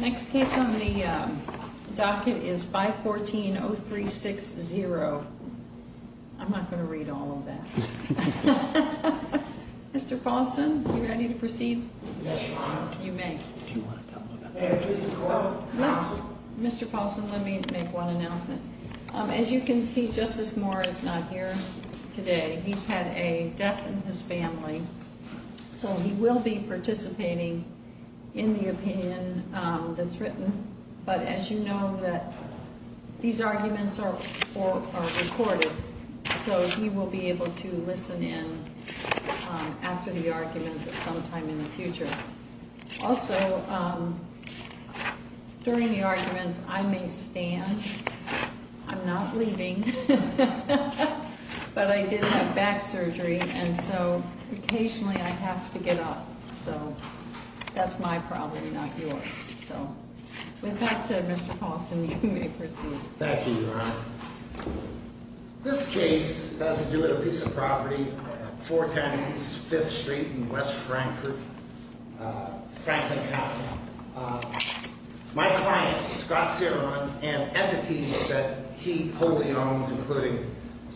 Next case on the docket is 514-0360. I'm not going to read all of that. Mr. Paulson, are you ready to proceed? Yes, Your Honor. You may. Do you want to tell them about this? Mr. Paulson, let me make one announcement. As you can see, Justice Moore is not here today. He's had a death in his family, so he will be participating in the opinion that's written. But as you know, these arguments are recorded, so he will be able to listen in after the arguments at some time in the future. Also, during the arguments, I may stand. I'm not leaving. But I did have back surgery, and so occasionally I have to get up. So that's my problem, not yours. With that said, Mr. Paulson, you may proceed. Thank you, Your Honor. This case has to do with a piece of property at 410 East 5th Street in West Frankfurt, Franklin County. My client, Scott Ceron, and entities that he wholly owns, including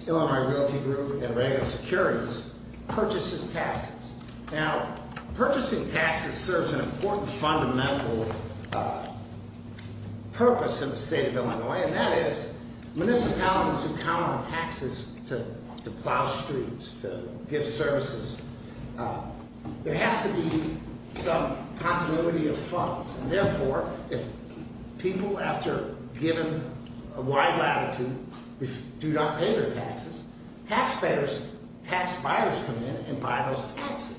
Illinois Realty Group and Regular Securities, purchase his taxes. Now, purchasing taxes serves an important fundamental purpose in the state of Illinois, and that is municipalities who count on taxes to plow streets, to give services. There has to be some continuity of funds. And therefore, if people, after given a wide latitude, do not pay their taxes, taxpayers, tax buyers come in and buy those taxes.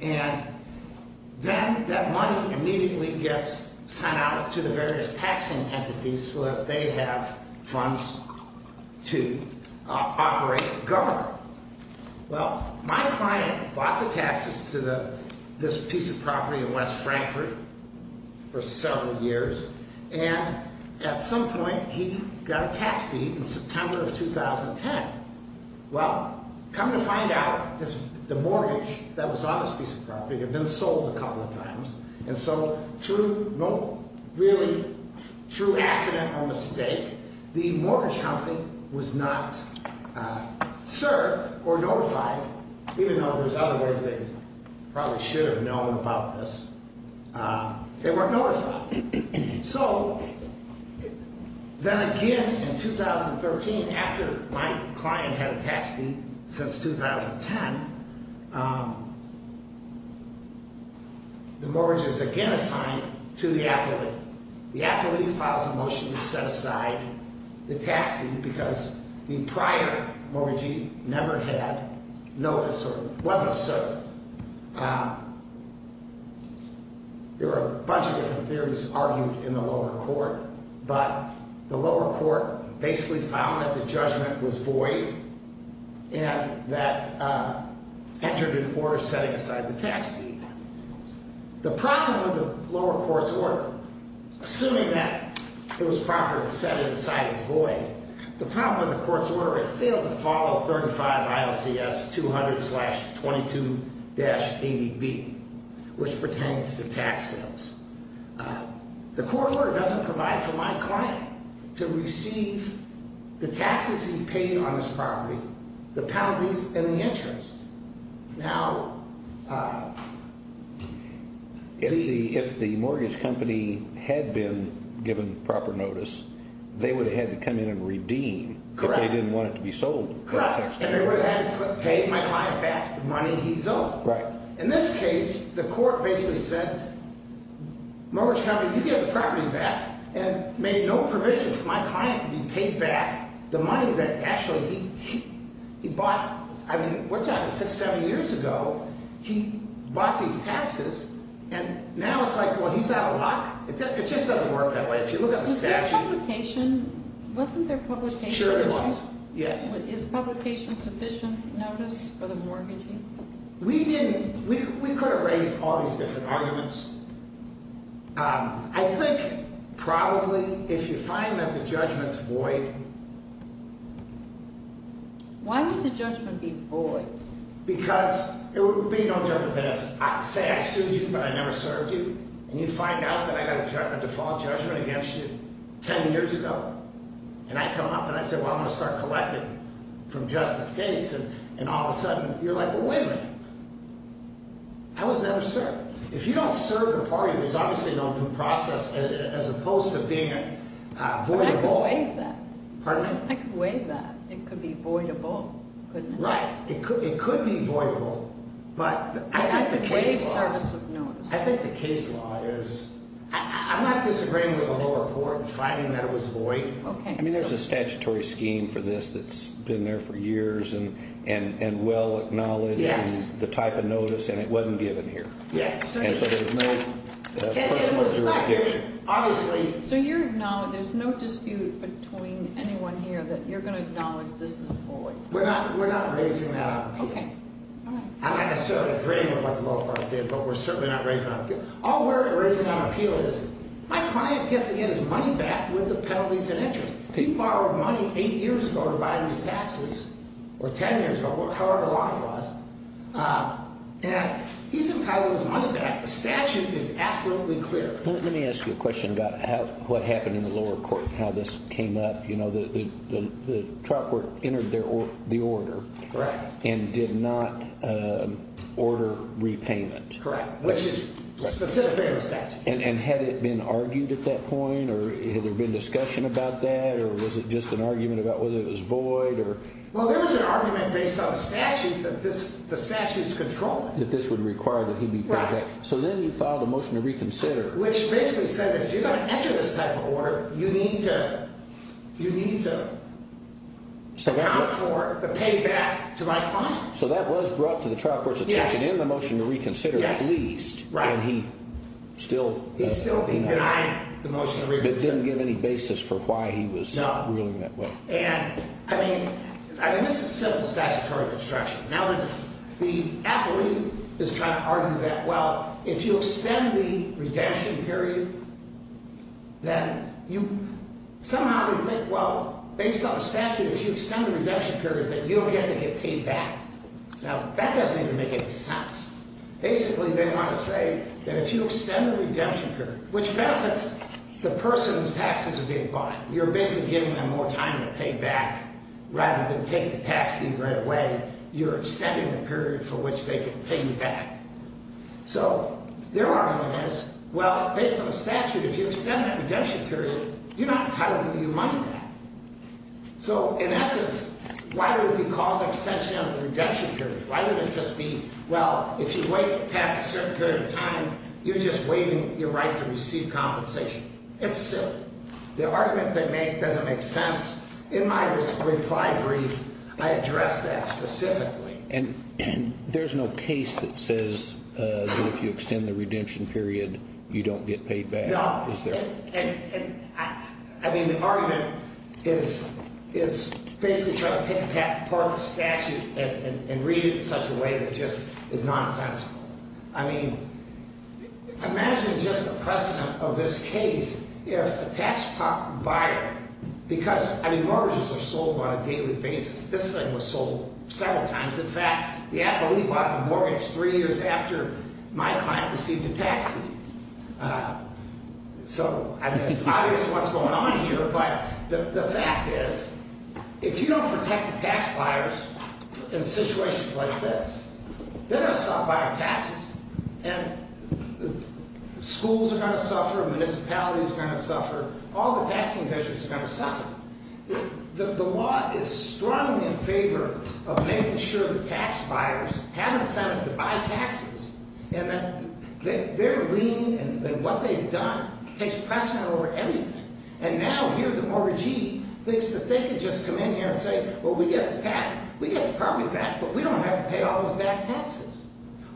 And then that money immediately gets sent out to the various taxing entities so that they have funds to operate and govern. Well, my client bought the taxes to this piece of property in West Frankfurt for several years, and at some point he got a tax leave in September of 2010. Well, come to find out, the mortgage that was on this piece of property had been sold a couple of times. And so through accident or mistake, the mortgage company was not served or notified, even though there's other ways they probably should have known about this. They weren't notified. So then again, in 2013, after my client had a tax leave since 2010, the mortgage is again assigned to the applicant. The applicant files a motion to set aside the tax leave because the prior mortgagee never had noticed or wasn't served. There are a bunch of different theories argued in the lower court, but the lower court basically found that the judgment was void and that entered into order setting aside the tax leave. The problem with the lower court's order, assuming that it was proper to set it aside as void, the problem with the court's order, it failed to follow 35 ILCS 200-22-80B, which pertains to tax sales. The court order doesn't provide for my client to receive the taxes he paid on this property, the penalties, and the interest. If the mortgage company had been given proper notice, they would have had to come in and redeem if they didn't want it to be sold. Correct. And they would have had to pay my client back the money he's owed. In this case, the court basically said, mortgage company, you get the property back and made no provision for my client to be paid back the money that actually he bought. I mean, what's happening? Six, seven years ago, he bought these taxes, and now it's like, well, he's out of luck. It just doesn't work that way. If you look at the statute. Was there publication? Wasn't there publication? Sure, there was. Yes. Is publication sufficient notice for the mortgagee? We didn't. We could have raised all these different arguments. I think probably if you find that the judgment's void. Why would the judgment be void? Because it would be no different than if, say, I sued you, but I never served you, and you find out that I got a default judgment against you 10 years ago. And I come up, and I say, well, I'm going to start collecting from Justice Gates, and all of a sudden, you're like, well, wait a minute. I was never served. If you don't serve the party, there's obviously no due process as opposed to being voidable. I could waive that. Pardon me? I could waive that. It could be voidable, couldn't it? Right. It could be voidable, but I think the case law. I think the case law is. I'm not disagreeing with the lower court finding that it was void. Okay. I mean, there's a statutory scheme for this that's been there for years and well-acknowledged in the type of notice, and it wasn't given here. Yes. And so there's no question of jurisdiction. Obviously. So there's no dispute between anyone here that you're going to acknowledge this is void? We're not raising that up. Okay. All right. I'm not necessarily agreeing with what the lower court did, but we're certainly not raising that up. All we're raising on appeal is my client gets to get his money back with the penalties and interest. He borrowed money eight years ago to buy these taxes, or ten years ago, however long it was, and he's entitled his money back. The statute is absolutely clear. Let me ask you a question about what happened in the lower court and how this came up. You know, the truck entered the order and did not order repayment. Correct. Which is specifically in the statute. And had it been argued at that point, or had there been discussion about that, or was it just an argument about whether it was void? Well, there was an argument based on the statute that the statute's controlling. That this would require that he be paid back. Right. So then you filed a motion to reconsider. Which basically said if you're going to enter this type of order, you need to account for the payback to my client. So that was brought to the trial court's attention in the motion to reconsider, at least. Right. And he still denied the motion to reconsider. It didn't give any basis for why he was ruling that way. No. And, I mean, this is simple statutory construction. Now, the athlete is trying to argue that, well, if you extend the redemption period, then you somehow think, well, based on the statute, if you extend the redemption period, then you don't get to get paid back. Now, that doesn't even make any sense. Basically, they want to say that if you extend the redemption period, which benefits the person whose taxes are being bought. You're basically giving them more time to pay back rather than take the tax leave right away. You're extending the period for which they can pay you back. So their argument is, well, based on the statute, if you extend that redemption period, you're not entitled to give your money back. So, in essence, why would it be called extension of the redemption period? Why would it just be, well, if you wait past a certain period of time, you're just waiving your right to receive compensation? It's silly. The argument they make doesn't make sense. In my reply brief, I address that specifically. And there's no case that says that if you extend the redemption period, you don't get paid back, is there? I mean, the argument is basically trying to pick apart the statute and read it in such a way that just is nonsensical. I mean, imagine just the precedent of this case if a tax buyer, because, I mean, mortgages are sold on a daily basis. This thing was sold several times. In fact, the appellee bought the mortgage three years after my client received a tax leave. So, I mean, it's obvious what's going on here. But the fact is, if you don't protect the tax buyers in situations like this, they're going to stop buying taxes. And schools are going to suffer. Municipalities are going to suffer. All the taxing officials are going to suffer. The law is strongly in favor of making sure that tax buyers have incentive to buy taxes. And that their lien and what they've done takes precedent over everything. And now here the mortgagee thinks that they can just come in here and say, well, we get the tax. We get the property back, but we don't have to pay all those back taxes.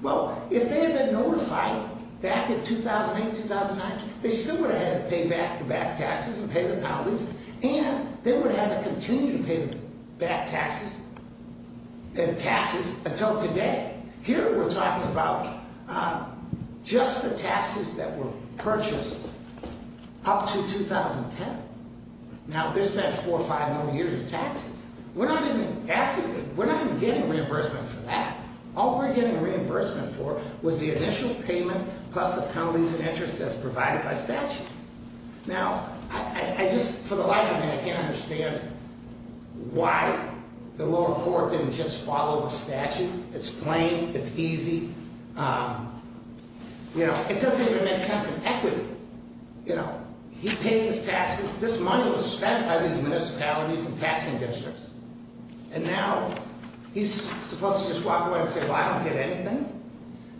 Well, if they had been notified back in 2008, 2009, they still would have had to pay back the taxes and pay the penalties. And they would have to continue to pay back taxes and taxes until today. Here we're talking about just the taxes that were purchased up to 2010. Now, there's been four or five million years of taxes. We're not even getting reimbursement for that. All we're getting reimbursement for was the initial payment plus the penalties and interest as provided by statute. Now, I just, for the life of me, I can't understand why the lower court didn't just follow the statute. It's plain. It's easy. You know, it doesn't even make sense of equity. You know, he paid his taxes. This money was spent by these municipalities and taxing districts. And now he's supposed to just walk away and say, well, I don't get anything.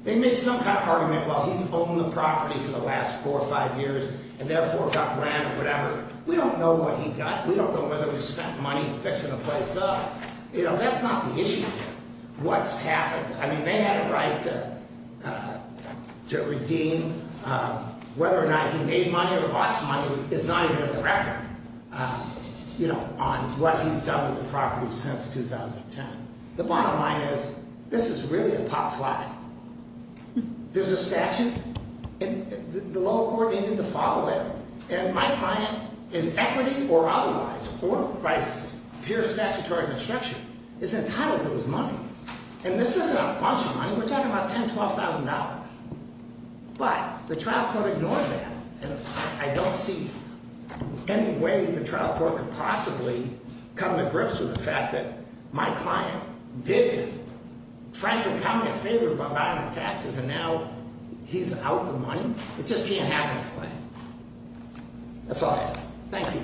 They make some kind of argument, well, he's owned the property for the last four or five years and therefore got rent or whatever. We don't know what he got. We don't know whether he spent money fixing the place up. You know, that's not the issue here. What's happened? I mean, they had a right to redeem whether or not he made money or lost money is not even on the record, you know, on what he's done with the property since 2010. The bottom line is, this is really a pop fly. There's a statute and the lower court needed to follow it. And my client, in equity or otherwise, or by pure statutory construction, is entitled to his money. And this isn't a bunch of money. We're talking about $10,000, $12,000. But the trial court ignored that. And I don't see any way the trial court could possibly come to grips with the fact that my client did, frankly, come to favor by buying the taxes. And now he's out the money. It just can't happen that way. That's all I have. Thank you. Thank you.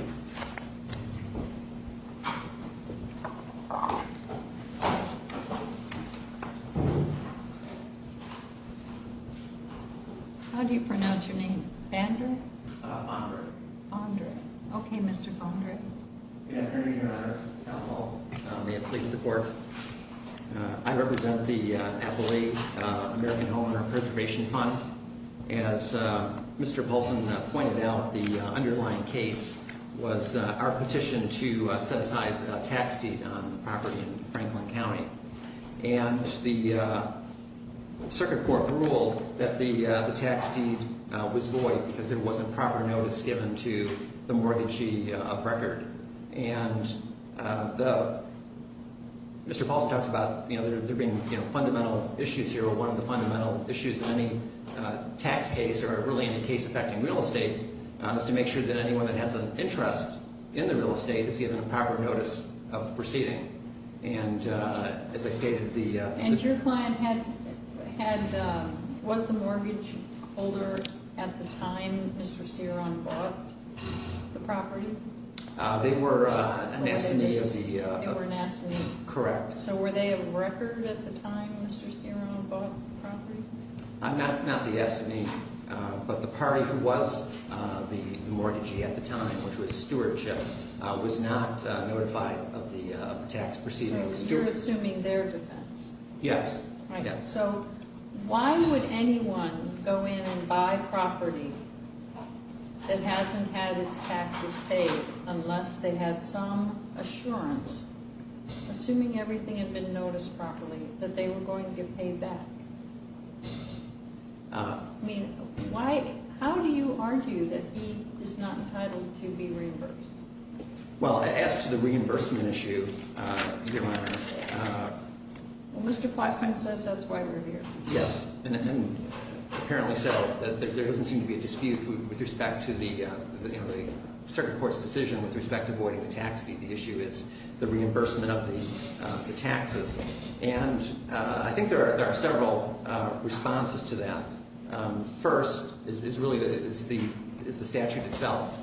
How do you pronounce your name? Bonder. Bonder. Okay, Mr. Bonder. Good afternoon, Your Honors. Counsel, may it please the court. I represent the Appalachian American Homeowner Preservation Fund. As Mr. Paulson pointed out, the underlying case was our petition to set aside a tax deed on the property in Franklin County. And the circuit court ruled that the tax deed was void because it wasn't proper notice given to the mortgagee of record. And Mr. Paulson talks about there being fundamental issues here. One of the fundamental issues in any tax case or really any case affecting real estate is to make sure that anyone that has an interest in the real estate is given proper notice of the proceeding. And as I stated, the — And your client had — was the mortgage holder at the time Mr. Ceron bought the property? They were an S&E of the — They were an S&E. Correct. So were they a record at the time Mr. Ceron bought the property? Not the S&E, but the party who was the mortgagee at the time, which was stewardship, was not notified of the tax proceeding. So you're assuming their defense. Yes. So why would anyone go in and buy property that hasn't had its taxes paid unless they had some assurance, assuming everything had been noticed properly, that they were going to get paid back? I mean, why — how do you argue that he is not entitled to be reimbursed? Well, as to the reimbursement issue, you didn't want to ask. Well, Mr. Plaston says that's why we're here. Yes, and apparently so. There doesn't seem to be a dispute with respect to the, you know, the circuit court's decision with respect to voiding the tax fee. The issue is the reimbursement of the taxes. And I think there are several responses to that. First is really the statute itself.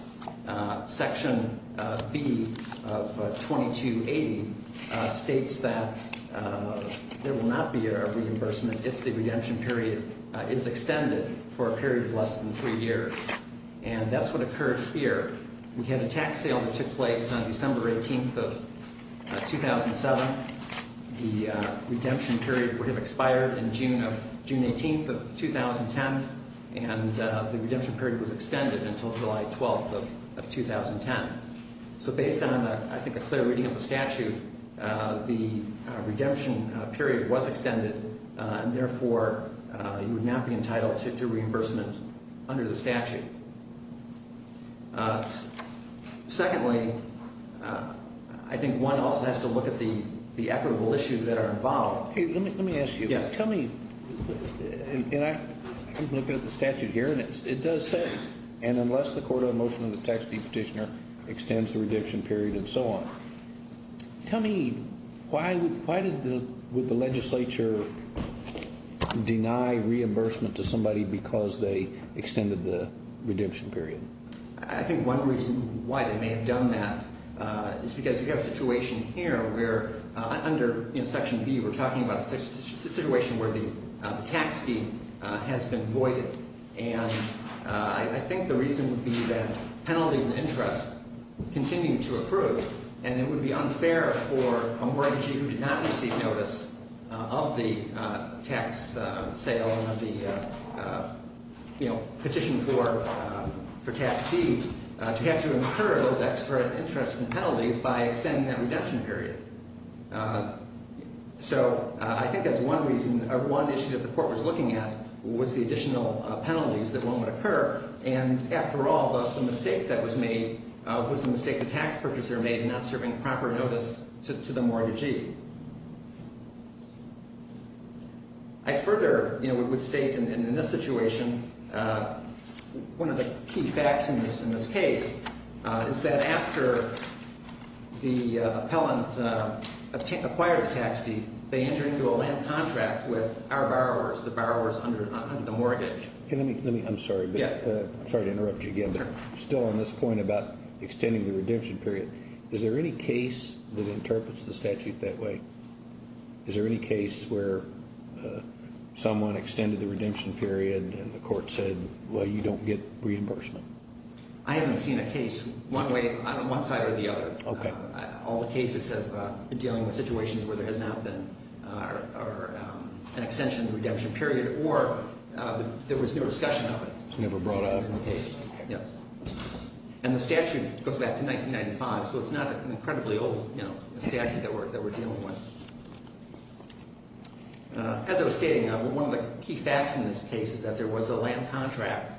Section B of 2280 states that there will not be a reimbursement if the redemption period is extended for a period of less than three years. And that's what occurred here. We had a tax sale that took place on December 18th of 2007. The redemption period would have expired in June of — June 18th of 2010, and the redemption period was extended until July 12th of 2010. So based on, I think, a clear reading of the statute, the redemption period was extended, and therefore you would not be entitled to reimbursement under the statute. Secondly, I think one also has to look at the equitable issues that are involved. Hey, let me ask you. Yes. Tell me — and I'm looking at the statute here, and it does say, and unless the court on motion of the tax-fee petitioner extends the redemption period and so on, tell me, why would the legislature deny reimbursement to somebody because they extended the redemption period? I think one reason why they may have done that is because you have a situation here where, under Section B, we're talking about a situation where the tax fee has been voided. And I think the reason would be that penalties and interest continue to approve, and it would be unfair for a mortgagee who did not receive notice of the tax sale and of the, you know, petition for tax fees to have to incur those extra interests and penalties by extending that redemption period. So I think that's one reason — or one issue that the court was looking at was the additional penalties that won't occur. And after all, the mistake that was made was a mistake the tax purchaser made in not serving proper notice to the mortgagee. I further, you know, would state in this situation, one of the key facts in this case is that after the appellant acquired a tax fee, they entered into a land contract with our borrowers, the borrowers under the mortgage. I'm sorry to interrupt you again, but still on this point about extending the redemption period, is there any case that interprets the statute that way? Is there any case where someone extended the redemption period and the court said, well, you don't get reimbursement? I haven't seen a case one way — one side or the other. Okay. All the cases have been dealing with situations where there has not been an extension of the redemption period or there was no discussion of it. It was never brought up in the case. Yes. And the statute goes back to 1995, so it's not an incredibly old, you know, statute that we're dealing with. As I was stating, one of the key facts in this case is that there was a land contract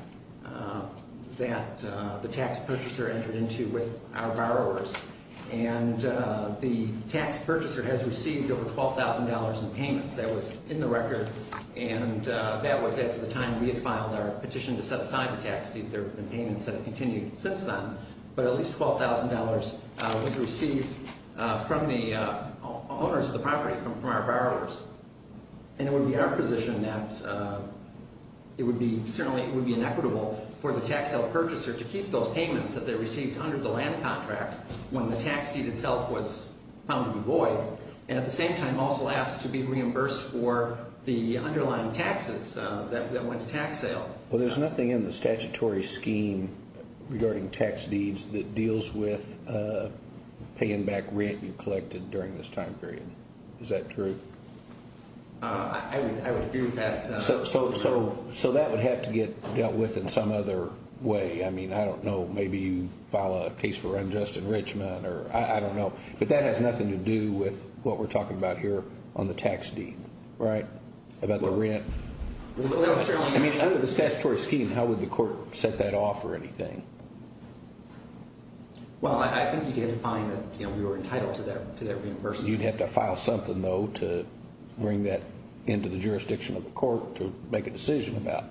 that the tax purchaser entered into with our borrowers, and the tax purchaser has received over $12,000 in payments. That was in the record, and that was as of the time we had filed our petition to set aside the tax deed. There have been payments that have continued since then, but at least $12,000 was received from the owners of the property, from our borrowers. And it would be our position that it would be — certainly it would be inequitable for the tax-held purchaser to keep those payments that they received under the land contract when the tax deed itself was found to be void, and at the same time also ask to be reimbursed for the underlying taxes that went to tax sale. Well, there's nothing in the statutory scheme regarding tax deeds that deals with paying back rent you collected during this time period. Is that true? I would agree with that. So that would have to get dealt with in some other way. I mean, I don't know. Maybe you file a case for unjust enrichment, or I don't know. But that has nothing to do with what we're talking about here on the tax deed, right, about the rent? I mean, under the statutory scheme, how would the court set that off or anything? Well, I think you'd have to find that we were entitled to that reimbursement. You'd have to file something, though, to bring that into the jurisdiction of the court to make a decision about.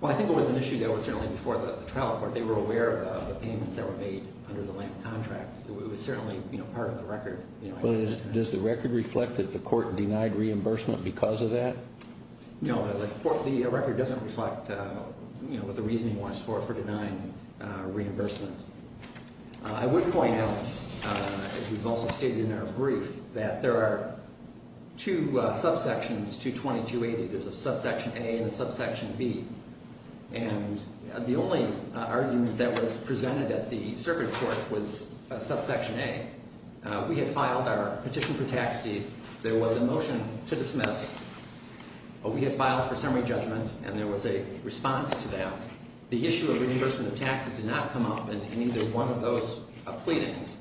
Well, I think it was an issue that was certainly before the trial court. They were aware of the payments that were made under the land contract. It was certainly part of the record. Does the record reflect that the court denied reimbursement because of that? No, the record doesn't reflect what the reasoning was for denying reimbursement. I would point out, as we've also stated in our brief, that there are two subsections to 2280. There's a subsection A and a subsection B. And the only argument that was presented at the circuit court was subsection A. We had filed our petition for tax deed. There was a motion to dismiss. We had filed for summary judgment, and there was a response to that. The issue of reimbursement of taxes did not come up in either one of those pleadings.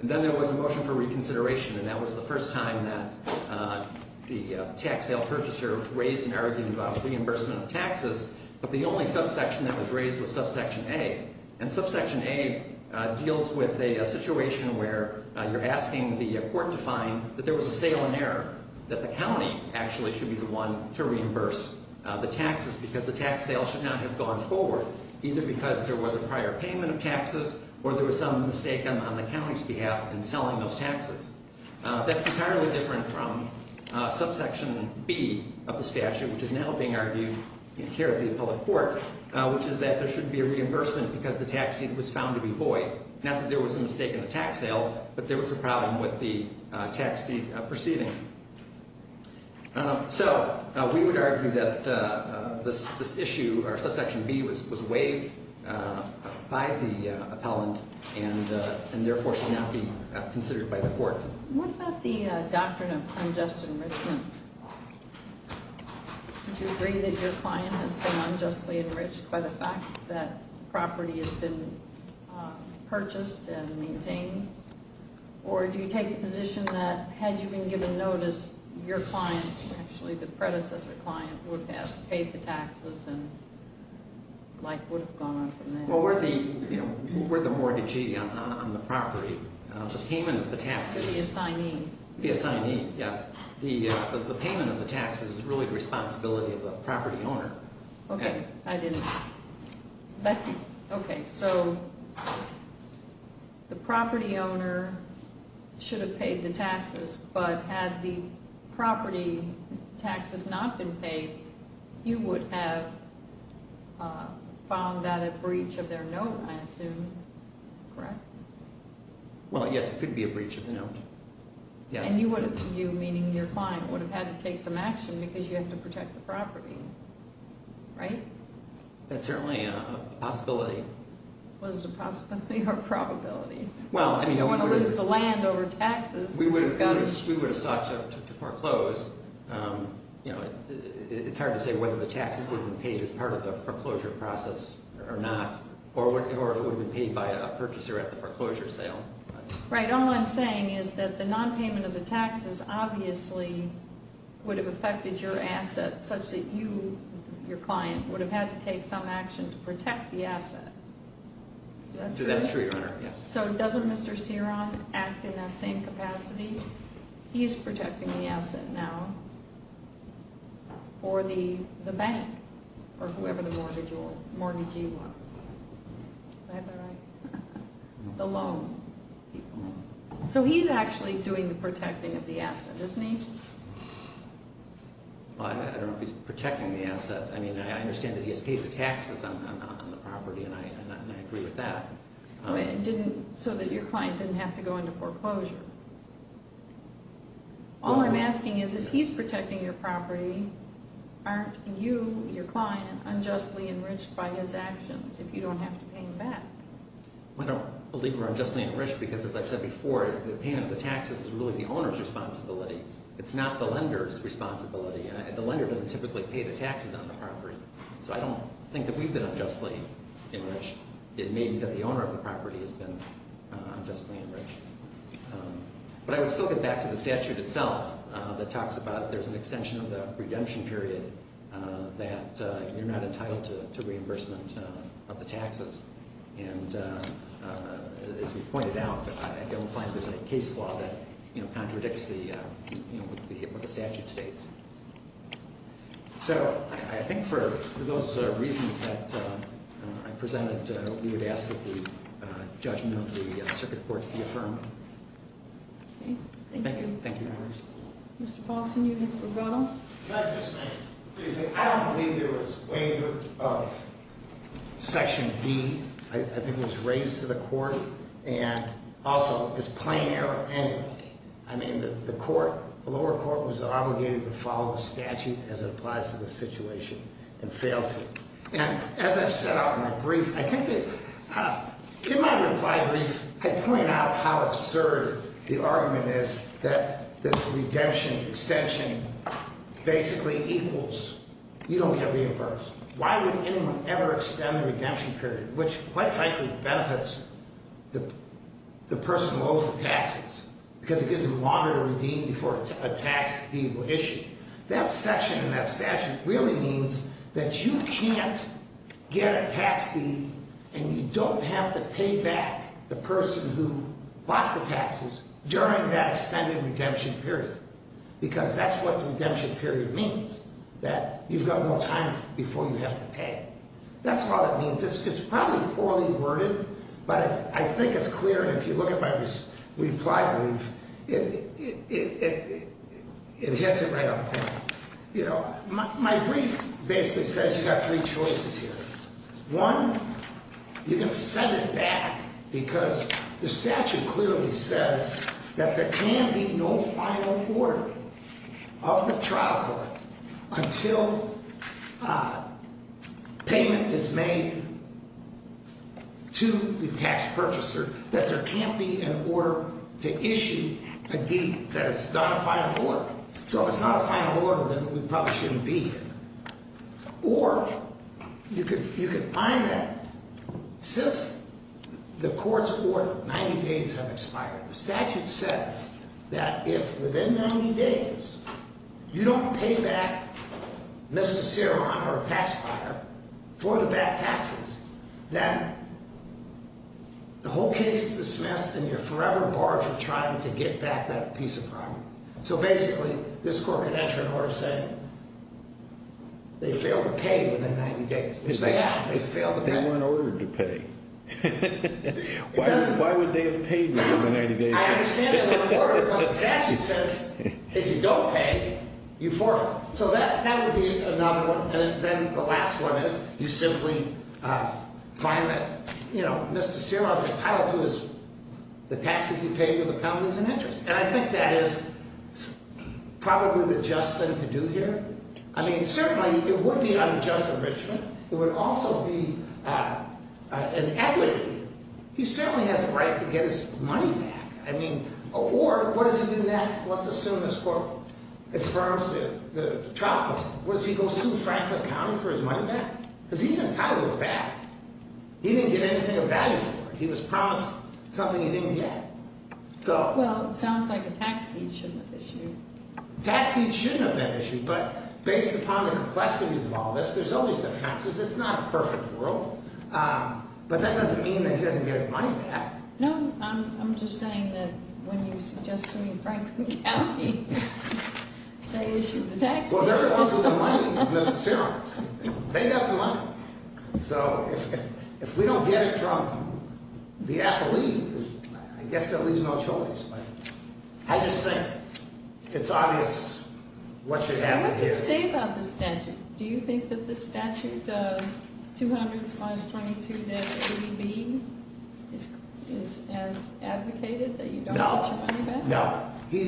And then there was a motion for reconsideration, and that was the first time that the tax sale purchaser raised an argument about reimbursement of taxes. But the only subsection that was raised was subsection A. And subsection A deals with a situation where you're asking the court to find that there was a sale in error, that the county actually should be the one to reimburse the taxes because the tax sale should not have gone forward, either because there was a prior payment of taxes or there was some mistake on the county's behalf in selling those taxes. That's entirely different from subsection B of the statute, which is now being argued here at the appellate court, which is that there should be a reimbursement because the tax deed was found to be void, not that there was a mistake in the tax sale, but there was a problem with the tax deed proceeding. So we would argue that this issue, or subsection B, was waived by the appellant and therefore should not be considered by the court. What about the doctrine of unjust enrichment? Do you agree that your client has been unjustly enriched by the fact that property has been purchased and maintained? Or do you take the position that had you been given notice, your client, actually the predecessor client, would have paid the taxes and life would have gone on from there? Well, we're the mortgagee on the property. The payment of the taxes... The assignee. The assignee, yes. The payment of the taxes is really the responsibility of the property owner. Okay, I didn't... Okay, so the property owner should have paid the taxes, but had the property taxes not been paid, you would have found that a breach of their note, I assume, correct? Well, yes, it could be a breach of the note, yes. And you, meaning your client, would have had to take some action because you have to protect the property, right? That's certainly a possibility. Was it a possibility or a probability? Well, I mean... You don't want to lose the land over taxes. We would have sought to foreclose. You know, it's hard to say whether the taxes would have been paid as part of the foreclosure process or not, or if it would have been paid by a purchaser at the foreclosure sale. Right, all I'm saying is that the nonpayment of the taxes obviously would have affected your assets such that you, your client, would have had to take some action to protect the asset. That's true, Your Honor, yes. So doesn't Mr. Ceron act in that same capacity? He's protecting the asset now for the bank or whoever the mortgagee was. Am I right? The loan. So he's actually doing the protecting of the asset, isn't he? Well, I don't know if he's protecting the asset. I mean, I understand that he has paid the taxes on the property, and I agree with that. So that your client didn't have to go into foreclosure. All I'm asking is if he's protecting your property, aren't you, your client, unjustly enriched by his actions if you don't have to pay him back? I don't believe we're unjustly enriched because, as I said before, the payment of the taxes is really the owner's responsibility. It's not the lender's responsibility. The lender doesn't typically pay the taxes on the property. So I don't think that we've been unjustly enriched. It may be that the owner of the property has been unjustly enriched. But I would still get back to the statute itself that talks about there's an extension of the redemption period that you're not entitled to reimbursement of the taxes. And as we've pointed out, I don't find there's any case law that contradicts what the statute states. So I think for those reasons that I presented, we would ask that the judgment of the circuit court be affirmed. Okay. Thank you. Thank you. Mr. Paulson, you have a rebuttal. Excuse me. I don't believe there was waiver of Section B. I think it was raised to the court. And also, it's plain error anyway. I mean, the court, the lower court, was obligated to follow the statute as it applies to the situation and failed to. And as I've set out in my brief, I think that in my reply brief, I point out how absurd the argument is that this redemption extension basically equals, you don't get reimbursed. Why would anyone ever extend the redemption period, which quite frankly benefits the person who owes the taxes, because it gives them longer to redeem before a tax fee will issue. That section in that statute really means that you can't get a tax fee and you don't have to pay back the person who bought the taxes during that extended redemption period because that's what the redemption period means, that you've got more time before you have to pay. That's what it means. It's probably poorly worded, but I think it's clear, and if you look at my reply brief, it hits it right on point. My brief basically says you've got three choices here. One, you can send it back because the statute clearly says that there can be no final order of the trial court until payment is made to the tax purchaser, that there can't be an order to issue a deed that is not a final order. So if it's not a final order, then it probably shouldn't be. Or you could find that since the court's order of 90 days have expired, the statute says that if within 90 days you don't pay back Mr. Ceron or a tax buyer for the back taxes, then the whole case is dismissed and you're forever barred from trying to get back that piece of property. So basically, this court could enter an order saying they failed to pay within 90 days. They weren't ordered to pay. Why would they have paid within the 90 days? I understand they weren't ordered, but the statute says if you don't pay, you forfeit. So that would be another one. And then the last one is you simply find that Mr. Ceron is entitled to the taxes he paid and the penalty is in interest. And I think that is probably the just thing to do here. I mean, certainly it would be unjust enrichment. It would also be an equity. He certainly has a right to get his money back. I mean, or what does he do next? Let's assume this court affirms it, the trial court. What, does he go sue Franklin County for his money back? Because he's entitled to it back. He didn't get anything of value for it. He was promised something he didn't get. Well, it sounds like a tax deed shouldn't have been issued. Tax deeds shouldn't have been issued, but based upon the complexities of all this, there's always defenses. It's not a perfect world. But that doesn't mean that he doesn't get his money back. No, I'm just saying that when you suggest suing Franklin County, they issue the tax deed. Well, they're the ones with the money, Mr. Ceron. They got the money. So if we don't get it from the appellee, I guess that leaves no choice. But I just think it's obvious what should happen here. What do you say about the statute? Do you think that the statute, 200-22-80B, is as advocated, that you don't get your money back? No, no.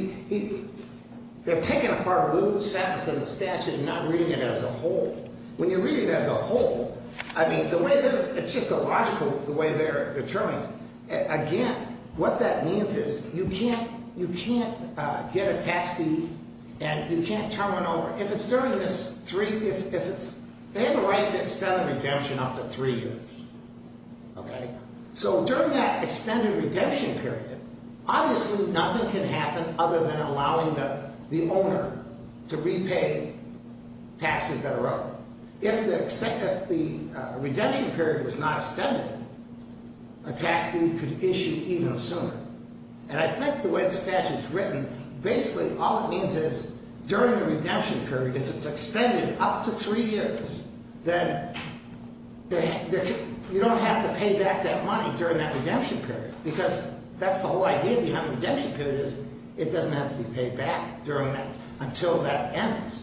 They're picking apart loose ends of the statute and not reading it as a whole. When you read it as a whole, I mean, it's just illogical the way they're determining it. Again, what that means is you can't get a tax deed and you can't turn one over. They have a right to extended redemption up to three years. So during that extended redemption period, obviously nothing can happen other than allowing the owner to repay taxes that are owed. If the redemption period was not extended, a tax deed could be issued even sooner. And I think the way the statute is written, basically all it means is during the redemption period, if it's extended up to three years, then you don't have to pay back that money during that redemption period, because that's the whole idea behind the redemption period is it doesn't have to be paid back until that ends.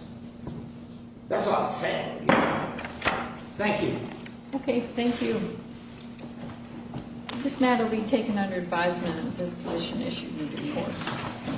That's all I'm saying. Thank you. Okay, thank you. This matter will be taken under advisement of the disposition issued moving forward.